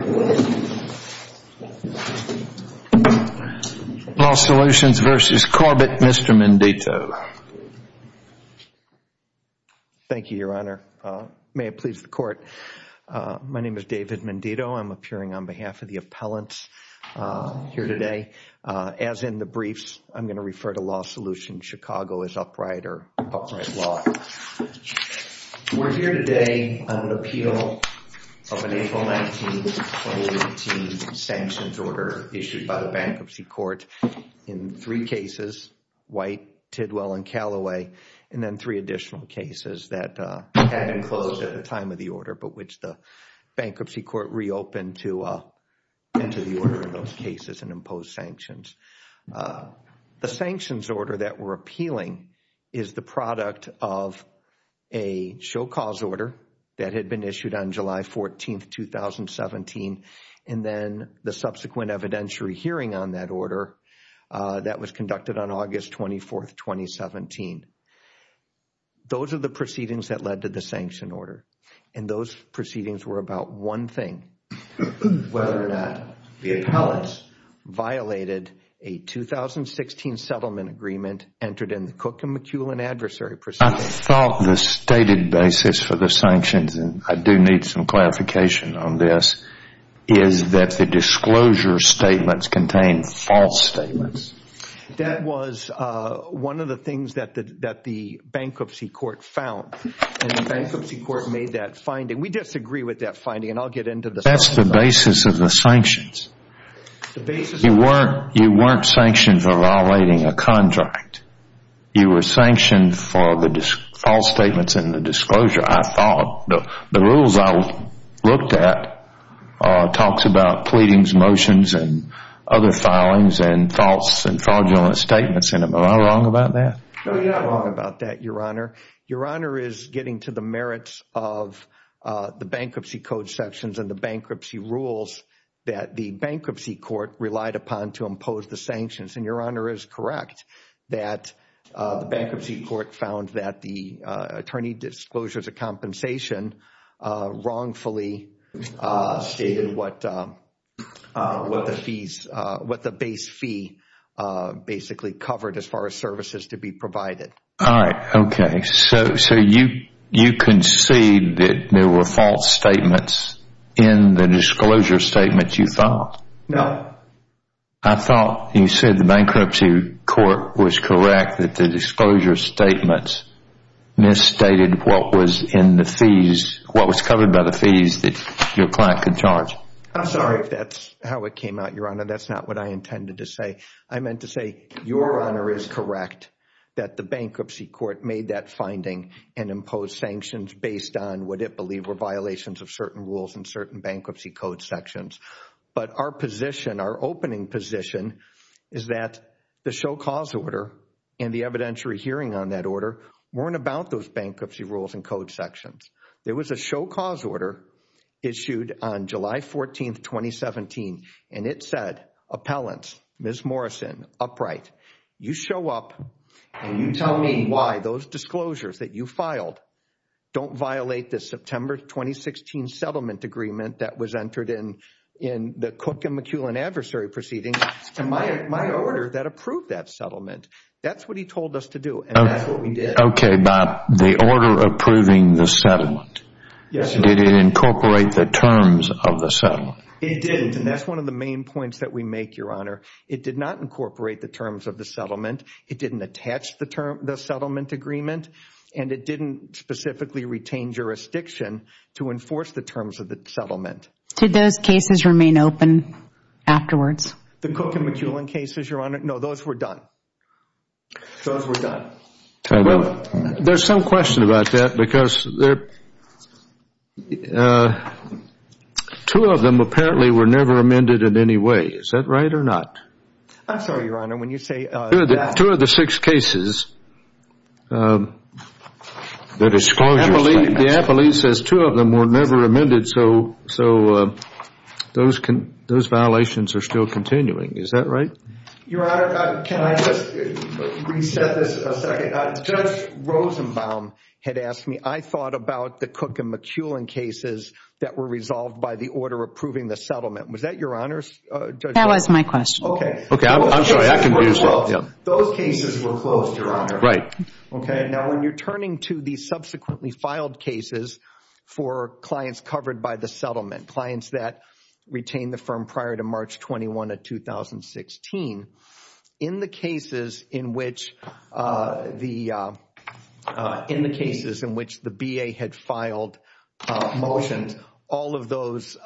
Law Solutions v. Corbett, Mr. Mendito. Thank you, Your Honor. May it please the Court. My name is David Mendito. I'm appearing on behalf of the appellants here today. As in the briefs, I'm going to refer to Law Solutions Upright or Upright Law. We're here today on an appeal of an April 19, 2018 sanctions order issued by the Bankruptcy Court in three cases, White, Tidwell, and Callaway, and then three additional cases that had been closed at the time of the order, but which the Bankruptcy Court reopened to enter the order of those cases and impose sanctions. The sanctions order that we're appealing is the product of a show-cause order that had been issued on July 14, 2017, and then the subsequent evidentiary hearing on that order that was conducted on August 24, 2017. Those are the proceedings that led to the sanction order, and those proceedings were about one thing, whether or not the appellants violated a 2016 settlement agreement entered in the Cook and McEwen Adversary Procedure. I thought the stated basis for the sanctions, and I do need some clarification on this, is that the disclosure statements contain false statements. That was one of the things that the Bankruptcy Court found, and the Bankruptcy Court made that finding. We disagree with that finding, and I'll get into the sanctions. The basis of the sanctions, you weren't sanctioned for violating a contract. You were sanctioned for the false statements in the disclosure, I thought. The rules I looked at talked about pleadings, motions, and other filings, and false and fraudulent statements. Am I wrong about that? You're not wrong about that, Your Honor. Your Honor is getting to the merits of the Bankruptcy Code sections and the bankruptcy rules that the Bankruptcy Court relied upon to impose the sanctions. Your Honor is correct that the Bankruptcy Court found that the attorney disclosures of compensation wrongfully stated what the base fee basically covered as far as services to be provided. All right. Okay. So you concede that there were false statements in the disclosure statement you filed? No. I thought you said the Bankruptcy Court was correct that the disclosure statements misstated what was in the fees, what was covered by the fees that your client could charge. I'm sorry if that's how it came out, Your Honor. That's not what I intended to say. I meant to say, Your Honor is correct that the Bankruptcy Court made that finding and imposed sanctions based on what it believed were violations of certain rules and certain Bankruptcy Code sections. But our position, our opening position, is that the show cause order and the evidentiary hearing on that order weren't about those bankruptcy rules and code sections. There was a show cause order issued on July 14th, 2017, and it said appellants, Ms. Morrison, Upright, you show up and you tell me why those disclosures that you filed don't violate the September 2016 settlement agreement that was entered in the Cook and McEwen adversary proceedings and my order that approved that settlement. That's what he told us to do and that's what we did. Okay. By the order approving the settlement, did it incorporate the terms of the settlement? It didn't and that's one of the main points that we make, Your Honor. It did not incorporate the terms of the settlement. It didn't attach the settlement agreement and it didn't specifically retain jurisdiction to enforce the terms of the settlement. Did those cases remain open afterwards? The Cook and McEwen cases, Your Honor, no, those were done. Those were done. Well, there's some question about that because two of them apparently were never amended in any way. Is that right or not? I'm sorry, Your Honor, when you say that. Two of the six cases, the appellee says two of them were never amended so those violations are still continuing. Is that right? Your Honor, can I just reset this a second? Judge Rosenbaum had asked me, I thought about the Cook and McEwen cases that were resolved by the order approving the settlement. Was that Your Honor's? That was my question. Okay. Okay, I'm sorry, I can do this. Those cases were closed, Your Honor. Right. Okay, now when you're turning to the subsequently filed cases for clients covered by the settlement, clients that retained the firm prior to March 21 of 2016, in the cases in which the B.A. had filed motions, all of those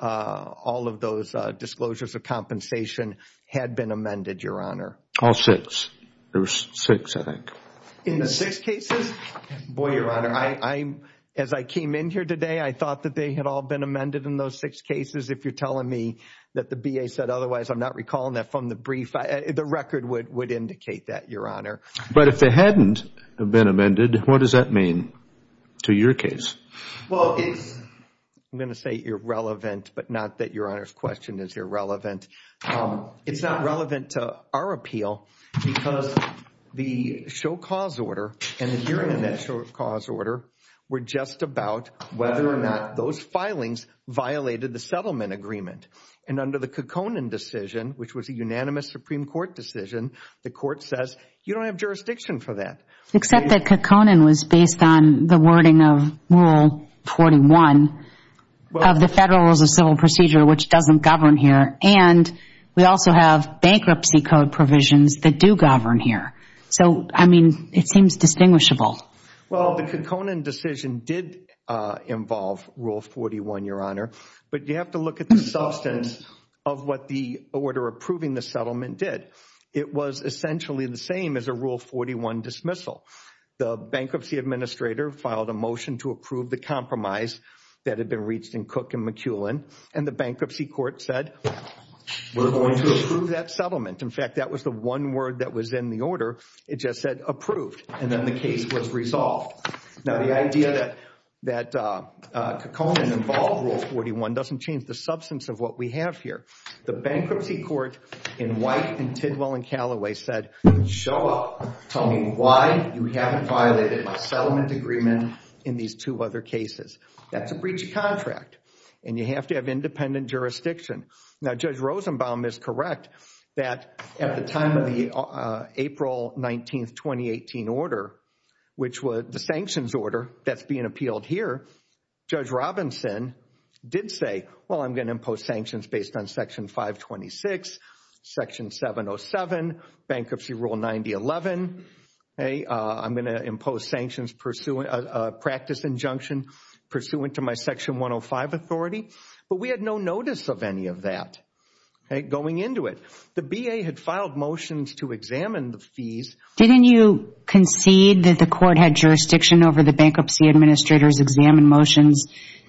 disclosures of compensation had been amended, Your Honor? All six. There was six, I think. In the six cases? Boy, Your Honor, as I came in here today, I thought that they had all been amended in those six cases. If you're telling me that the B.A. said otherwise, I'm not recalling that from the brief. The record would indicate that, Your Honor. But if they hadn't been amended, what does that mean to your case? Well, it's, I'm going to say irrelevant, but not that Your Honor's question is irrelevant. It's not relevant to our appeal because the show cause order and the hearing in that show about whether or not those filings violated the settlement agreement. And under the Kekkonen decision, which was a unanimous Supreme Court decision, the court says, you don't have jurisdiction for that. Except that Kekkonen was based on the wording of Rule 41 of the Federal Rules of Civil Procedure, which doesn't govern here. And we also have bankruptcy code provisions that do govern here. So, I mean, it seems distinguishable. Well, the Kekkonen decision did involve Rule 41, Your Honor. But you have to look at the substance of what the order approving the settlement did. It was essentially the same as a Rule 41 dismissal. The bankruptcy administrator filed a motion to approve the compromise that had been reached in Cook and McEwen. And the bankruptcy court said, we're going to approve that settlement. In fact, that was the one word that was in the order. It just said approved. And then the case was resolved. Now, the idea that Kekkonen involved Rule 41 doesn't change the substance of what we have here. The bankruptcy court in White and Tidwell and Callaway said, show up. Tell me why you haven't violated my settlement agreement in these two other cases. That's a breach of contract. And you have to have independent jurisdiction. Now, Judge Rosenbaum is correct that at the time of the April 19, 2018 order, which was the sanctions order that's being appealed here, Judge Robinson did say, well, I'm going to impose sanctions based on Section 526, Section 707, Bankruptcy Rule 9011. I'm going to impose sanctions pursuant, a practice injunction pursuant to my Section 105 authority. But we had no notice of any of that going into it. The B.A. had filed motions to examine the fees. Didn't you concede that the court had jurisdiction over the bankruptcy administrator's examined motions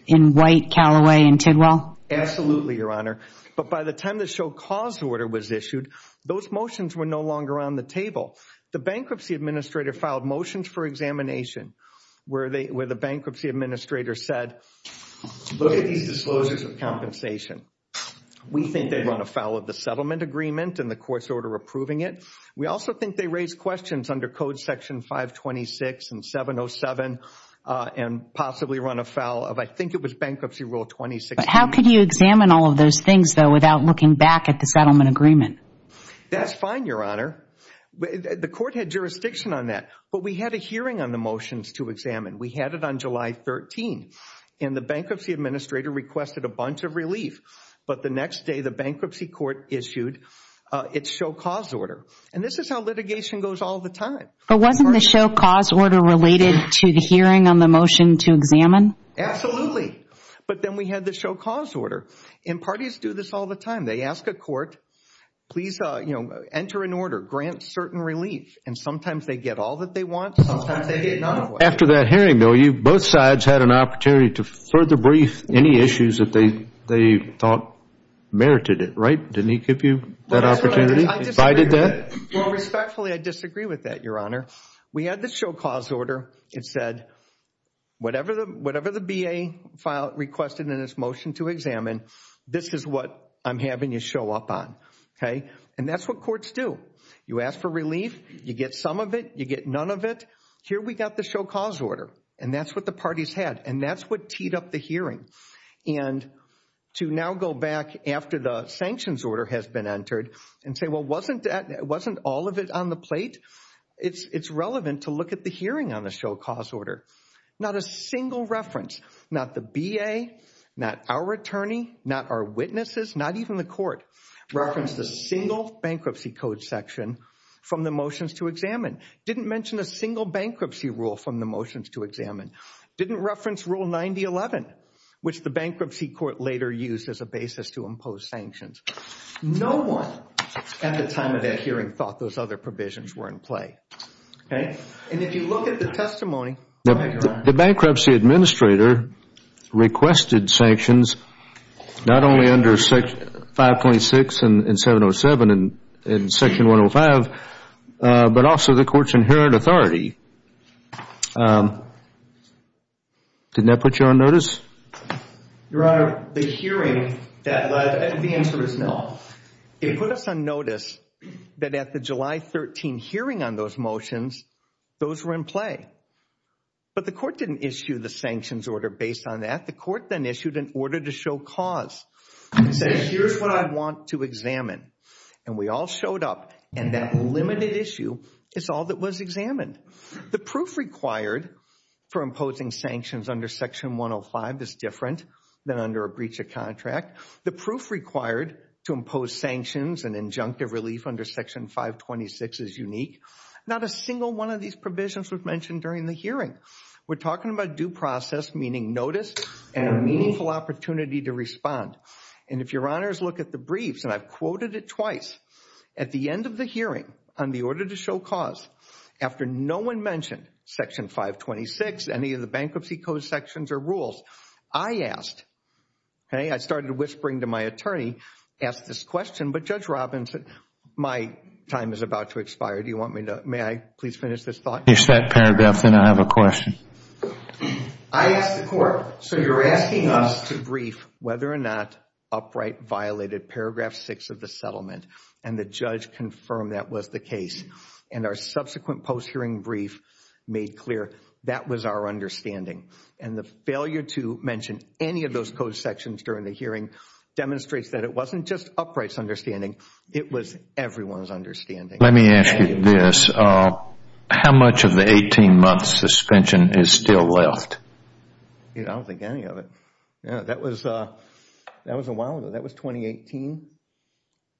in White, Callaway, and Tidwell? Absolutely, Your Honor. But by the time the show cause order was issued, those motions were no longer on the table. The bankruptcy administrator filed motions for examination where the bankruptcy administrator said, look at these disclosures of compensation. We think they run afoul of the settlement agreement and the court's order approving it. We also think they raised questions under Code Section 526 and 707 and possibly run afoul of, I think it was Bankruptcy Rule 2016. How could you examine all of those things, though, without looking back at the settlement agreement? That's fine, Your Honor. The court had jurisdiction on that. But we had a hearing on the motion to examine. We had it on July 13. And the bankruptcy administrator requested a bunch of relief. But the next day, the bankruptcy court issued its show cause order. And this is how litigation goes all the time. But wasn't the show cause order related to the hearing on the motion to examine? Absolutely. But then we had the show cause order. And parties do this all the time. They ask a court, please enter an order, grant certain relief. And sometimes they get all that they want. Sometimes they get none of what they want. After that hearing, though, both sides had an opportunity to further brief any issues that they thought merited it, right? Didn't he give you that opportunity? I disagree with that. He provided that? Well, respectfully, I disagree with that, Your Honor. We had the show cause order. It said, whatever the BA requested in this motion to examine, this is what I'm having you show up on. And that's what courts do. You ask for relief. You get some of it. You get none of it. Here we got the show cause order. And that's what the parties had. And that's what teed up the hearing. And to now go back after the sanctions order has been entered and say, well, wasn't all of it on the plate? It's relevant to look at the hearing on the show cause order. Not a single reference, not the BA, not our attorney, not our witnesses, not even the motions to examine. Didn't mention a single bankruptcy rule from the motions to examine. Didn't reference Rule 9011, which the bankruptcy court later used as a basis to impose sanctions. No one at the time of that hearing thought those other provisions were in play. And if you look at the testimony... The bankruptcy administrator requested sanctions not only under 5.6 and 707 and Section 105, but also the court's inherent authority. Didn't that put you on notice? Your Honor, the hearing that led... The answer is no. It put us on notice that at the July 13 hearing on those motions, those were in play. But the court didn't issue the sanctions order based on that. The court then issued an order to show cause and say, here's what I want to examine. And we all showed up and that limited issue is all that was examined. The proof required for imposing sanctions under Section 105 is different than under a breach of contract. The proof required to impose sanctions and injunctive relief under Section 526 is unique. Not a single one of these provisions was mentioned during the hearing. We're talking about due process, meaning notice and a meaningful opportunity to respond. And if Your Honor's look at the briefs, and I've quoted it twice, at the end of the hearing on the order to show cause, after no one mentioned Section 526, any of the bankruptcy code sections or rules, I asked, okay, I started whispering to my attorney, asked this question, but Judge Robbins said, my time is about to expire. Do you want me to... May I please finish this thought? Finish that paragraph, then I have a question. I asked the court, so you're asking us to brief whether or not Upright violated Paragraph 6 of the settlement, and the judge confirmed that was the case. And our subsequent post-hearing brief made clear that was our understanding. And the failure to mention any of those code sections during the hearing demonstrates that it wasn't just Upright's understanding, it was everyone's understanding. Let me ask you this, how much of the 18-month suspension is still left? I don't think any of it. That was a while ago, that was 2018?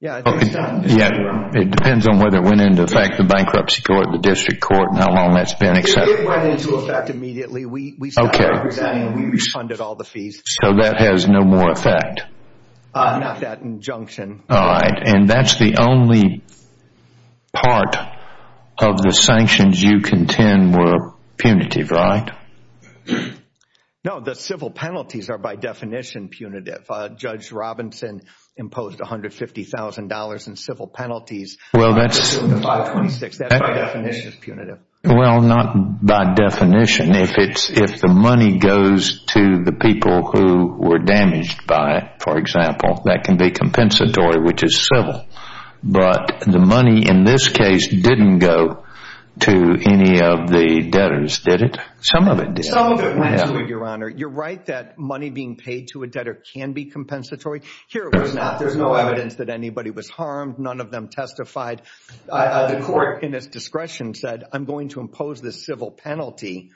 Yeah, it depends on whether it went into effect, the bankruptcy court, the district court, and how long that's been accepted. It went into effect immediately. We stopped representing, we refunded all the fees. So that has no more effect? Not that injunction. All right, and that's the only part of the sanctions you contend were punitive, right? No, the civil penalties are by definition punitive. Judge Robinson imposed $150,000 in civil penalties. Well, not by definition. If the money goes to the people who were damaged by it, that can be compensatory, which is civil. But the money in this case didn't go to any of the debtors, did it? Some of it did. Your Honor, you're right that money being paid to a debtor can be compensatory. Here it was not. There's no evidence that anybody was harmed. None of them testified. The court in its discretion said, I'm going to impose this civil penalty,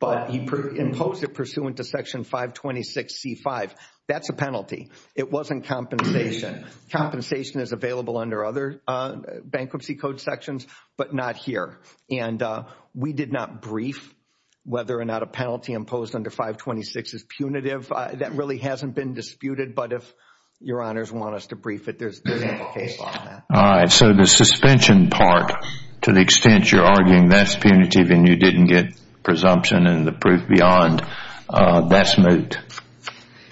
but he imposed it pursuant to Section 526C5. That's a penalty. It wasn't compensation. Compensation is available under other bankruptcy code sections, but not here. And we did not brief whether or not a penalty imposed under 526 is punitive. That really hasn't been disputed, but if Your Honors want us to brief it, there's implications. All right, so the suspension part, to the extent you're arguing that's punitive and you didn't get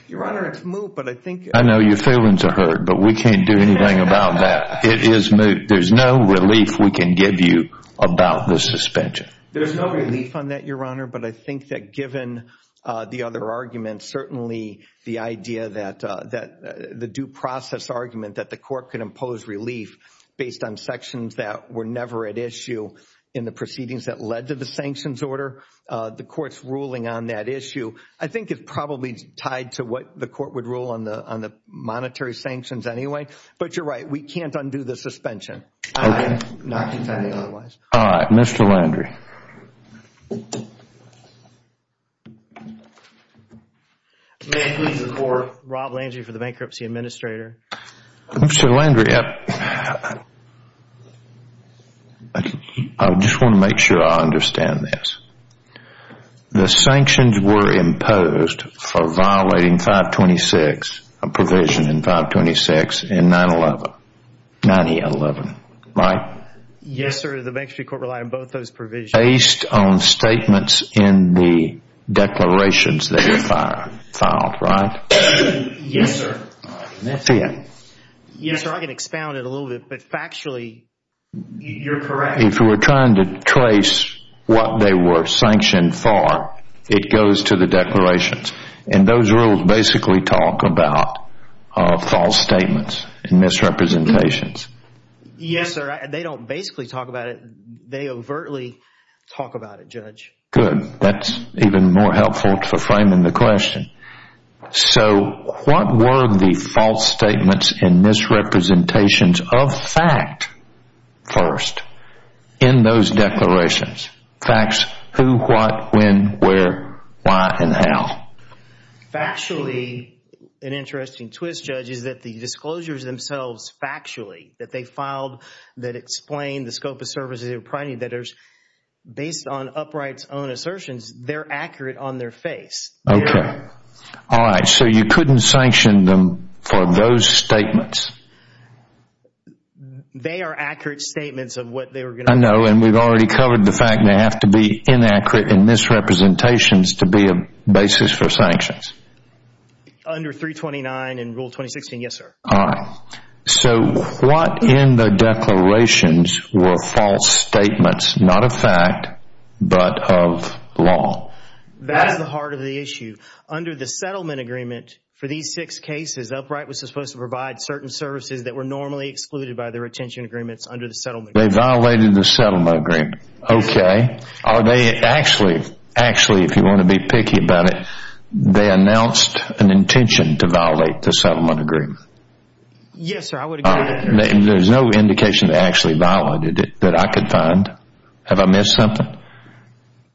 Your Honor, it's moot, but I think I know your feelings are hurt, but we can't do anything about that. It is moot. There's no relief we can give you about the suspension. There's no relief on that, Your Honor, but I think that given the other arguments, certainly the idea that the due process argument that the court can impose relief based on sections that were never at issue in the proceedings that led to the sanctions order, the court's ruling on that issue, I think it's probably tied to what the court would rule on the monetary sanctions anyway, but you're right. We can't undo the suspension. All right, Mr. Landry. May I please report, Rob Landry for the Bankruptcy Administrator. Mr. Landry, I just want to make sure I understand this. The sanctions were imposed for violating 526, a provision in 526, in 9-11, 9-11, right? Yes, sir. The Bankruptcy Court relied on both those provisions. Based on statements in the declarations that were filed, right? Yes, sir. Yes, sir. I can expound it a little bit, but factually, you're correct. If you were trying to trace what they were sanctioned for, it goes to the declarations, and those rules basically talk about false statements and misrepresentations. Yes, sir. They don't basically talk about it. They overtly talk about it, Judge. Good. That's even more helpful for framing the question. So, what were the false statements and misrepresentations of fact, first, in those declarations? Facts, who, what, when, where, why, and how? Factually, an interesting twist, Judge, is that the disclosures themselves factually, that they filed, that explain the scope of services they were providing, that there's, based on upright's own assertions, they're accurate on their face. Okay. All right. So, you couldn't sanction them for those statements? They are accurate statements of what they were going to- I know, and we've already covered the fact they have to be inaccurate and misrepresentations to be a basis for sanctions. Under 329 and Rule 2016, yes, sir. All right. So, what in the declarations were false statements, not of fact, but of law? That's the heart of the issue. Under the settlement agreement for these six cases, upright was supposed to provide certain services that were normally excluded by the retention agreements under the settlement agreement. They violated the settlement agreement. Okay. Are they actually, actually, if you want to be picky about it, they announced an intention to violate the settlement agreement? Yes, sir. I would agree with that. There's no indication they actually violated it that I could find. Have I missed something?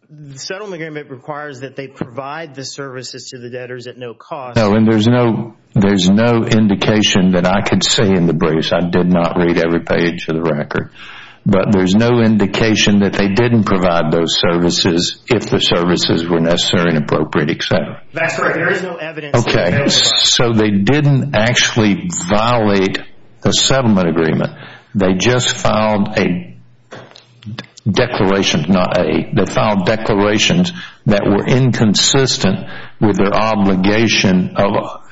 The settlement agreement requires that they provide the services to the debtors at no cost. No, and there's no indication that I could see in the briefs. I did not read every page of the record, but there's no indication that they didn't provide those services if the services were necessary and appropriate, et cetera. That's right. There is no evidence- Okay. So, they didn't actually violate the settlement agreement. They just filed a declaration, not a, they filed declarations that were inconsistent with their obligation of,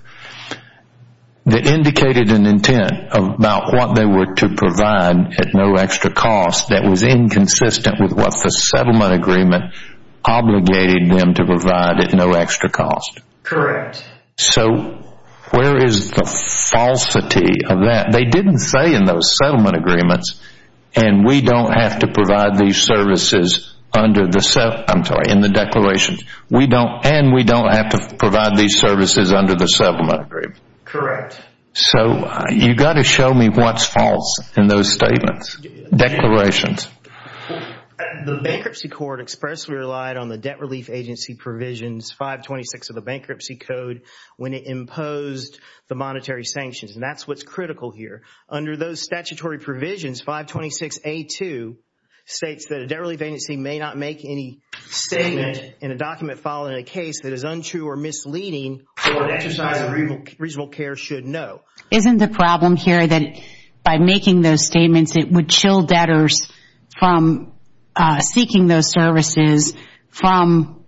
that indicated an intent about what they were to provide at no extra cost that was inconsistent with what the settlement agreement obligated them to provide at no extra cost. Correct. So, where is the falsity of that? They didn't say in those settlement agreements, and we don't have to provide these services under the, I'm sorry, in the declarations. We don't, and we don't have to provide these services under the settlement agreement. Correct. So, you got to show me what's false in those statements, declarations. The bankruptcy court expressly relied on the Debt Relief Agency provisions 526 of the bankruptcy code when it imposed the monetary sanctions, and that's what's critical here. Under those 526A2 states that a Debt Relief Agency may not make any statement in a document following a case that is untrue or misleading or an exercise of reasonable care should know. Isn't the problem here that by making those statements, it would chill debtors from seeking those services from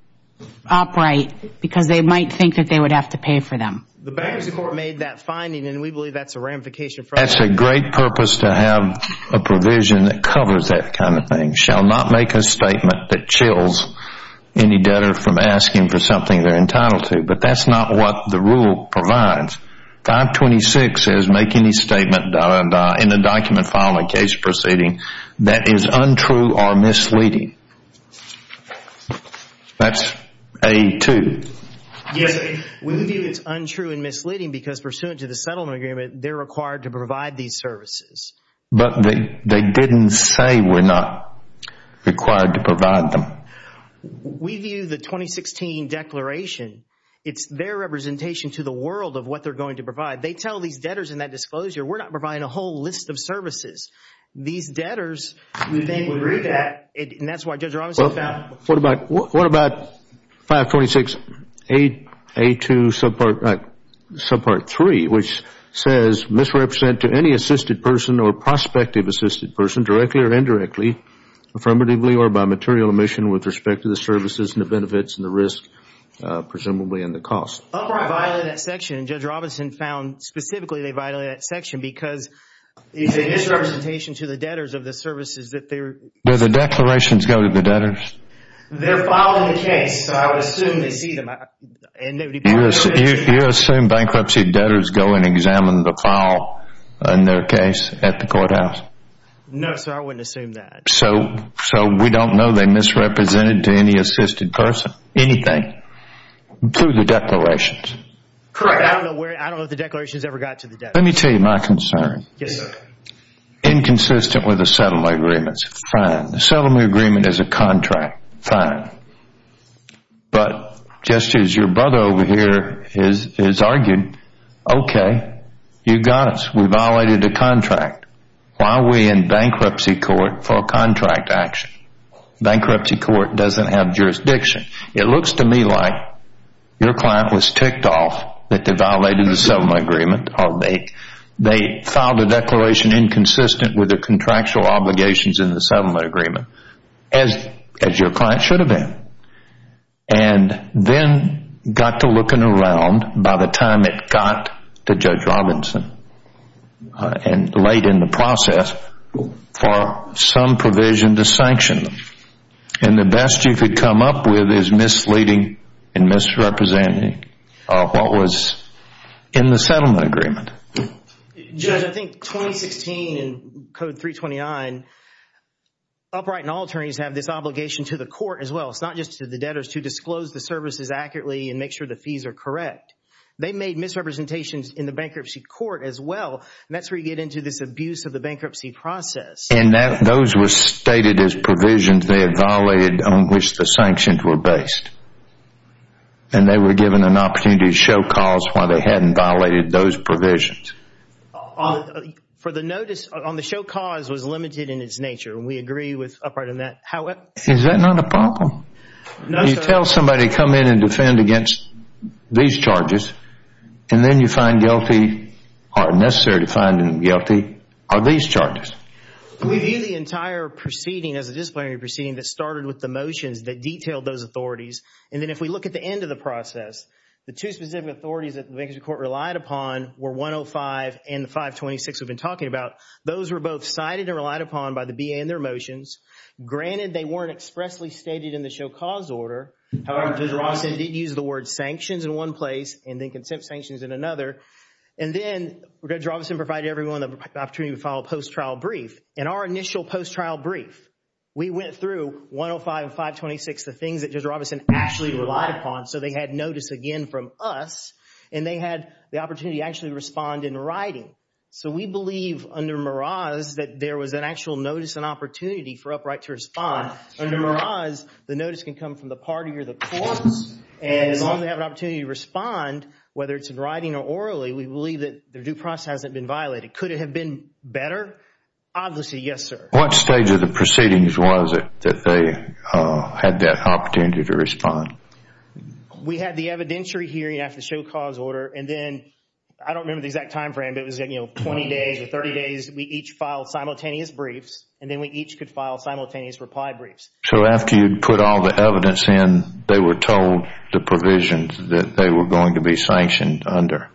upright because they might think that they would have to pay for them? The bankruptcy court made that finding, and we believe that's a ramification for- That's a great purpose to have a provision that covers that kind of thing, shall not make a statement that chills any debtor from asking for something they're entitled to, but that's not what the rule provides. 526 says make any statement in a document following a case proceeding that is untrue or misleading. That's A2. Yes, we believe it's untrue and misleading because pursuant to the settlement agreement, they're required to provide these services. But they didn't say we're not required to provide them. We view the 2016 declaration, it's their representation to the world of what they're going to provide. They tell these debtors in that disclosure, we're not providing a whole list of services. These debtors, we think would read that, and that's why Judge Robinson found- What about 526 A2 subpart 3, which says misrepresent to any assisted person or prospective assisted person directly or indirectly, affirmatively or by material omission with respect to the services and the benefits and the risk, presumably in the cost. Upright violated that section, and Judge Robinson found specifically they violated that section because it's a misrepresentation to the debtors of the services that they're- Do the declarations go to the debtors? They're following the case, so I would assume they see them. You assume bankruptcy debtors go and examine the file in their case at the courthouse? No, sir, I wouldn't assume that. So we don't know they misrepresented to any assisted person, anything, through the declarations? Correct. I don't know where, I don't know if the declarations ever got to the debtors. Let me tell you my concern. Yes, sir. Inconsistent with the settlement agreements. Fine. The settlement agreement is a contract. Fine. But just as your brother over here is arguing, okay, you got us. We violated a contract. Why are we in bankruptcy court for a contract action? Bankruptcy court doesn't have jurisdiction. It looks to me like your client was ticked off that they violated the settlement agreement, or they filed a declaration inconsistent with their contractual obligations in the settlement agreement, as your client should have been, and then got to looking around by the time it got to Judge Robinson, and late in the process, for some provision to sanction them. And the best you could come up with is misleading and misrepresenting what was in the settlement agreement. Judge, I think 2016 in Code 329, upright and all attorneys have this obligation to the court as well. It's not just to the debtors to disclose the services accurately and make sure the fees are correct. They made misrepresentations in the bankruptcy court as well, and that's where you get into this abuse of the bankruptcy process. And those were stated as provisions they had violated on which the sanctions were based, and they were given an opportunity to show cause why they hadn't violated those provisions. For the notice, on the show cause was limited in its nature, and we agree with upright on that. However... Is that not a problem? No, sir. You tell somebody to come in and defend against these charges, and then you find guilty, or necessary to find guilty, are these charges. We view the entire proceeding as a disciplinary proceeding that started with the motions that detailed those authorities. And then if we look at the end of the process, the two specific authorities that the bankruptcy court relied upon were 105 and 526 we've been talking about. Those were both cited and relied upon by the BA in their motions. Granted, they weren't expressly stated in the show cause order. However, Judge Rawson did use the word sanctions in one place, and then consent sanctions in another. And then Judge Rawson provided everyone the opportunity to file a post-trial brief. In our initial post-trial brief, we went through 105 and 526, the things that Judge Rawson actually relied upon. So they had notice again from us, and they had the opportunity to actually respond in writing. So we believe under Meraz that there was an actual notice and opportunity for upright to respond. Under Meraz, the notice can come from the party or the courts, and as long as they have an opportunity to respond, whether it's in writing or orally, we believe that their due process hasn't been violated. Could it have been better? Obviously, yes, sir. What stage of the proceedings was it that they had that opportunity to respond? We had the evidentiary hearing after the show cause order, and then, I don't remember the exact time frame, but it was, you know, 20 days or 30 days. We each filed simultaneous briefs, and then we each could file simultaneous reply briefs. So after you'd put all the evidence in, they were told the provisions that they were going to be sanctioned under?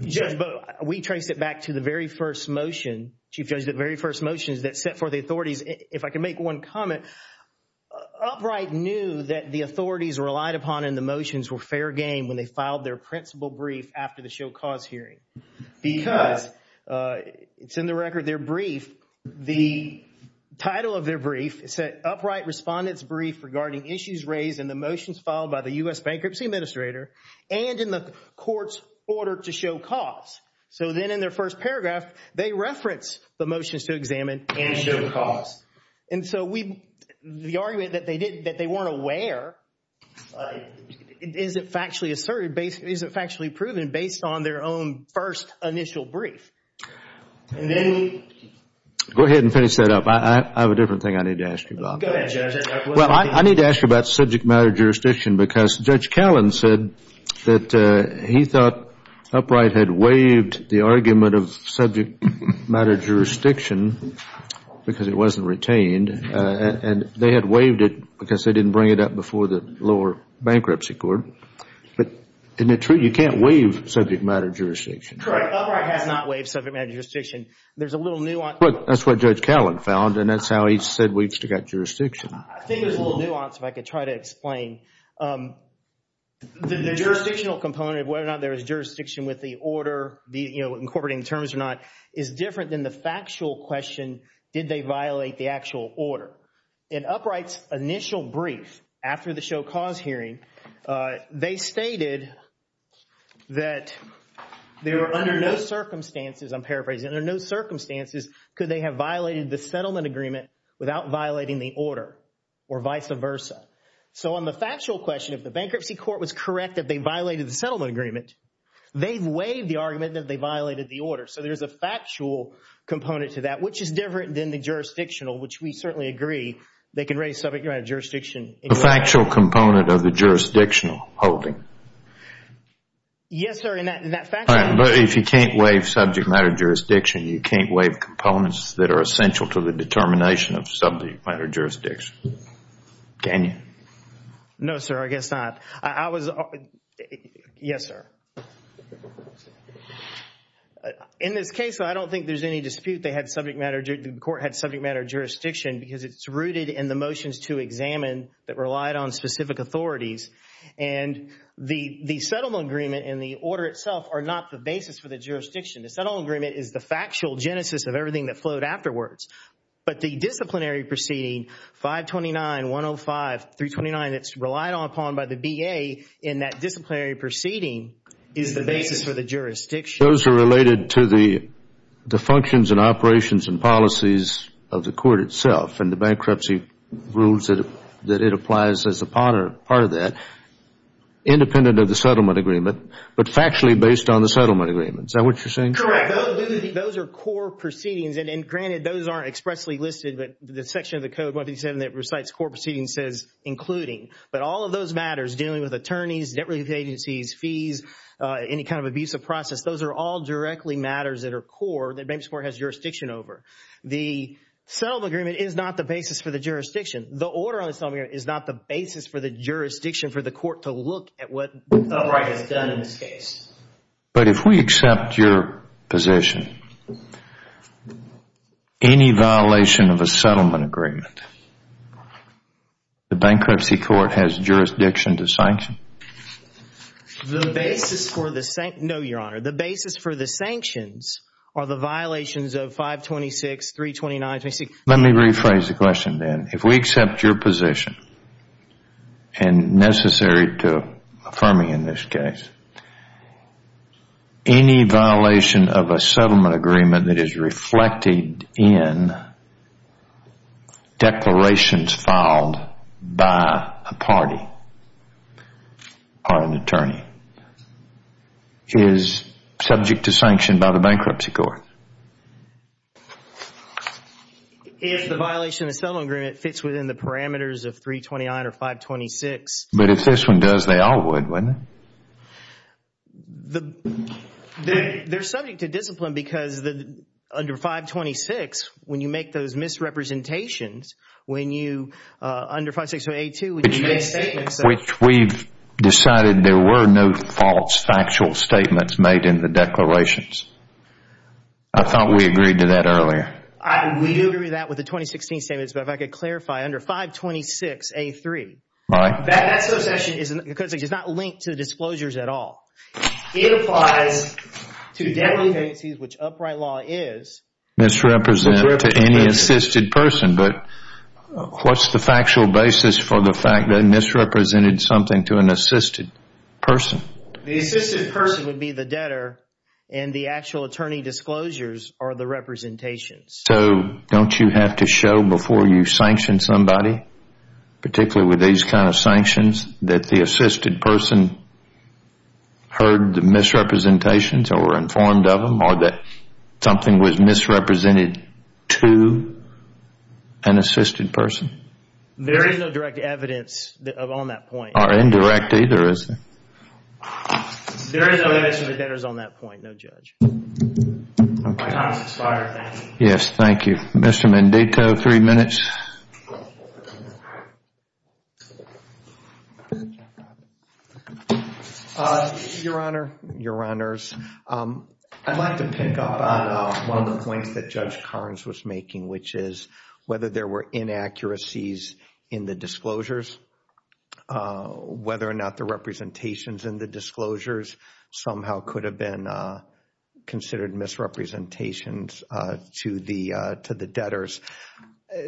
Judge, we traced it back to the very first motion, Chief Judge, the very first motions that set forth the authorities. If I can make one comment, upright knew that the authorities relied upon in the motions were fair game when they filed their principal brief after the show cause hearing. Because it's in the record, their brief, the title of their brief, it said upright respondents brief regarding issues raised in the motions filed by the U.S. Bankruptcy Administrator and in the court's order to show cause. So then in their first paragraph, they reference the motions to examine and show cause. And so we, the argument that they didn't, that they weren't aware, isn't factually asserted, isn't factually proven based on their own first initial brief. Go ahead and finish that up. I have a different thing I need to ask you about. Well, I need to ask you about subject matter jurisdiction because Judge Callen said that he thought upright had waived the argument of subject matter jurisdiction because it wasn't retained. And they had waived it because they didn't bring it up before the lower bankruptcy court. But isn't it true you can't waive subject matter jurisdiction? Correct. Upright has not waived subject matter jurisdiction. There's a little nuance. That's what Judge Callen found and that's how he said we've still got jurisdiction. I think there's a little nuance if I could try to explain. The jurisdictional component of whether or not there is jurisdiction with the order, the, you know, incorporating terms or not, is different than the factual question, did they violate the actual order? In upright's initial brief after the show cause hearing, they stated that they were under no circumstances, I'm paraphrasing, under no circumstances could they have violated the settlement agreement without violating the order or vice versa. So on the factual question, if the bankruptcy court was correct that they violated the settlement agreement, they've waived the argument that they violated the order. So there's a factual component to that, which is different than the jurisdictional, which we certainly agree they can raise subject matter jurisdiction. The factual component of the you can't waive components that are essential to the determination of subject matter jurisdiction. Can you? No, sir, I guess not. I was, yes, sir. In this case, I don't think there's any dispute they had subject matter, the court had subject matter jurisdiction because it's rooted in the motions to examine that relied on specific authorities and the settlement agreement and the order itself are not the basis for the factual genesis of everything that flowed afterwards. But the disciplinary proceeding 529, 105, 329, that's relied upon by the BA in that disciplinary proceeding is the basis for the jurisdiction. Those are related to the functions and operations and policies of the court itself and the bankruptcy rules that it applies as a part of that, independent of the settlement agreement, but factually based on the settlement agreement. Is that what you're saying? Correct. Those are core proceedings and granted, those aren't expressly listed, but the section of the Code 157 that recites core proceedings says including, but all of those matters dealing with attorneys, debt relief agencies, fees, any kind of abusive process, those are all directly matters that are core that bankruptcy court has jurisdiction over. The settlement agreement is not the basis for the jurisdiction. The order on the settlement agreement is not the basis for the jurisdiction for the court to look at what the right has done in this case. But if we accept your position, any violation of a settlement agreement, the bankruptcy court has jurisdiction to sanction? The basis for the, no your honor, the basis for the sanctions are the violations of 526, 329, Let me rephrase the question then. If we accept your position and necessary to affirm in this case, any violation of a settlement agreement that is reflected in declarations filed by a party or an attorney is subject to sanction by the bankruptcy court. If the violation of the settlement agreement fits within the parameters of 329 or 526. But if this one does, they all would, wouldn't it? They're subject to discipline because under 526, when you make those misrepresentations, when you, under 560A2, which you made a statement. Which we've decided there were no false factual statements made in the declarations. I thought we agreed to that earlier. We do agree to that with the 2016 statements. But if I could clarify under 526A3, that association is, because it's not linked to disclosures at all. It applies to debt liabilities, which upright law is misrepresented to any assisted person. But what's the factual basis for the fact that misrepresented something to an assisted person? The assisted person would be the debtor and the actual attorney disclosures are the representation. Don't you have to show before you sanction somebody, particularly with these kind of sanctions, that the assisted person heard the misrepresentations or were informed of them or that something was misrepresented to an assisted person? There is no direct evidence on that point. Or indirect either, is there? There is no evidence that the debtor is on that point, no judge. My time has expired, thank you. Yes, thank you. Mr. Mendico, three minutes. Your Honor, Your Honors, I'd like to pick up on one of the points that Judge Carnes was making, which is whether there were inaccuracies in the disclosures. Whether or not the representations in the disclosures somehow could have been considered misrepresentations to the debtors.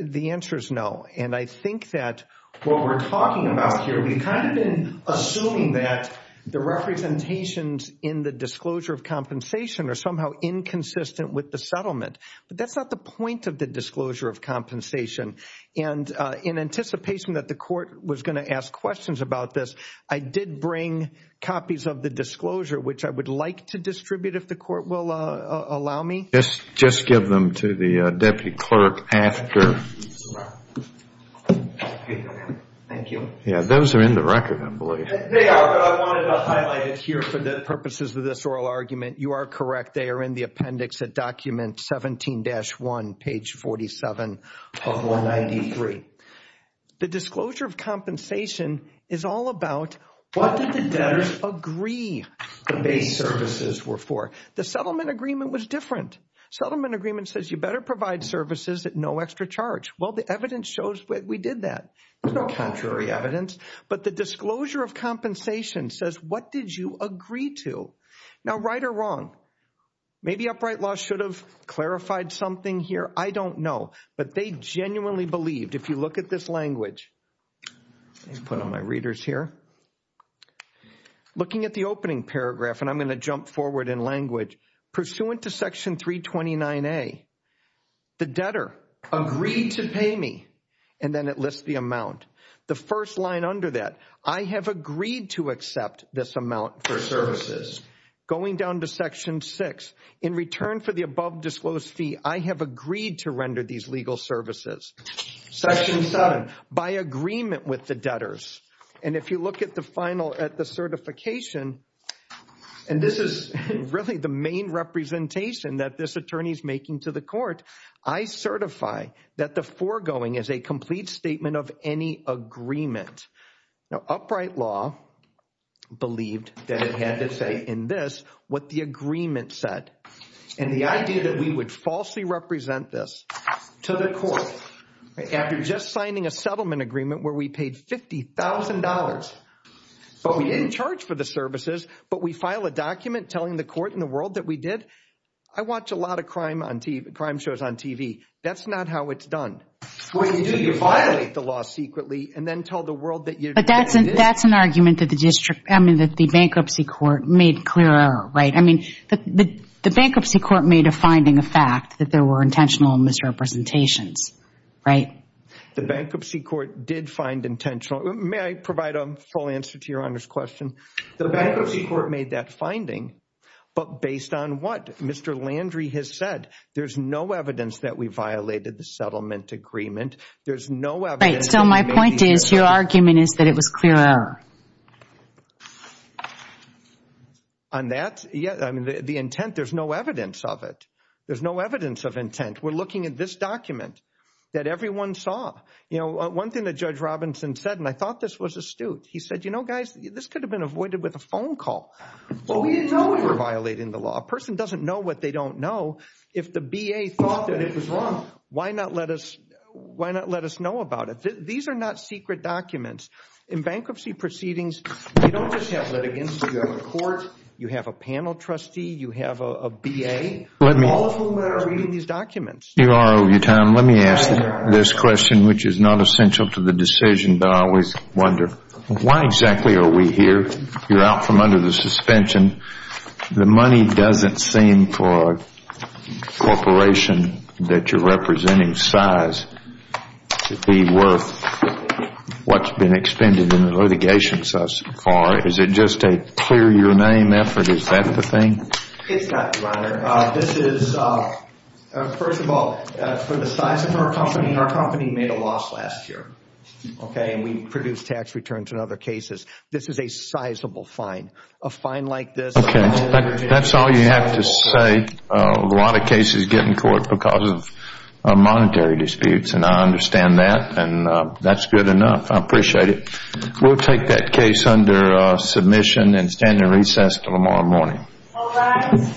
The answer is no. And I think that what we're talking about here, we've kind of been assuming that the representations in the disclosure of compensation are somehow inconsistent with the settlement. But that's not the point of the disclosure of compensation. And in anticipation that the court was going to ask questions about this, I did bring copies of the disclosure, which I would like to distribute if the court will allow me. Just give them to the deputy clerk after. Thank you. Yeah, those are in the record, I believe. They are, but I wanted to highlight it here for the purposes of this oral argument. You are correct. They are in the appendix at document 17-1, page 47 of 193. The disclosure of compensation is all about what did the debtors agree the base services were for? The settlement agreement was different. Settlement agreement says you better provide services at no extra charge. Well, the evidence shows that we did that. There's no contrary evidence. But the disclosure of compensation says what did you agree to? Now, right or wrong? Maybe Upright Law should have clarified something here. I don't know. But they genuinely believed. If you look at this language, let's put on my readers here. Looking at the opening paragraph, and I'm going to jump forward in language. Pursuant to section 329A, the debtor agreed to pay me. And then it lists the amount. The first line under that, I have agreed to accept this amount for services. Going down to section 6, in return for the above disclosed fee, I have agreed to render these legal services. Section 7, by agreement with the debtors. And if you look at the final at the certification, and this is really the main representation that this attorney is making to the court. I certify that the foregoing is a complete statement of any agreement. Now, Upright Law believed that it had to say in this what the agreement said. And the idea that we would falsely represent this to the court, after just signing a settlement agreement where we paid $50,000. But we didn't charge for the services, but we file a document telling the court in the world that we did. I watch a lot of crime shows on TV. That's not how it's done. What you do, you violate the law secretly and then tell the world that you did this. But that's an argument that the district, I mean, that the bankruptcy court made clear, right? I mean, the bankruptcy court made a finding of fact that there were intentional misrepresentations, right? The bankruptcy court did find intentional. May I provide a full answer to your Honor's question? The bankruptcy court made that finding. But based on what Mr. Landry has said, there's no evidence that we violated the settlement agreement. There's no evidence. So my point is your argument is that it was clear error. On that, yeah, I mean, the intent, there's no evidence of it. There's no evidence of intent. We're looking at this document that everyone saw. You know, one thing that Judge Robinson said, and I thought this was astute. He said, you know, guys, this could have been avoided with a phone call. But we know we were violating the law. A person doesn't know what they don't know. If the B.A. thought that it was wrong, why not let us know about it? These are not secret documents. In bankruptcy proceedings, you don't just have litigants. You have a court. You have a panel trustee. You have a B.A., all of whom are reading these documents. Your Honor, over your time, let me ask this question, which is not essential to the decision. But I always wonder, why exactly are we here? You're out from under the suspension. The money doesn't seem for a corporation that you're representing size to be worth what's been expended in the litigation so far. Is it just a clear-your-name effort? Is that the thing? It's not, Your Honor. This is, first of all, for the size of our company. Our company made a loss last year, okay? And we produced tax returns in other cases. This is a sizable fine. A fine like this... Okay, that's all you have to say. A lot of cases get in court because of monetary disputes, and I understand that, and that's good enough. I appreciate it. We'll take that case under submission and stand in recess until tomorrow morning. All rise.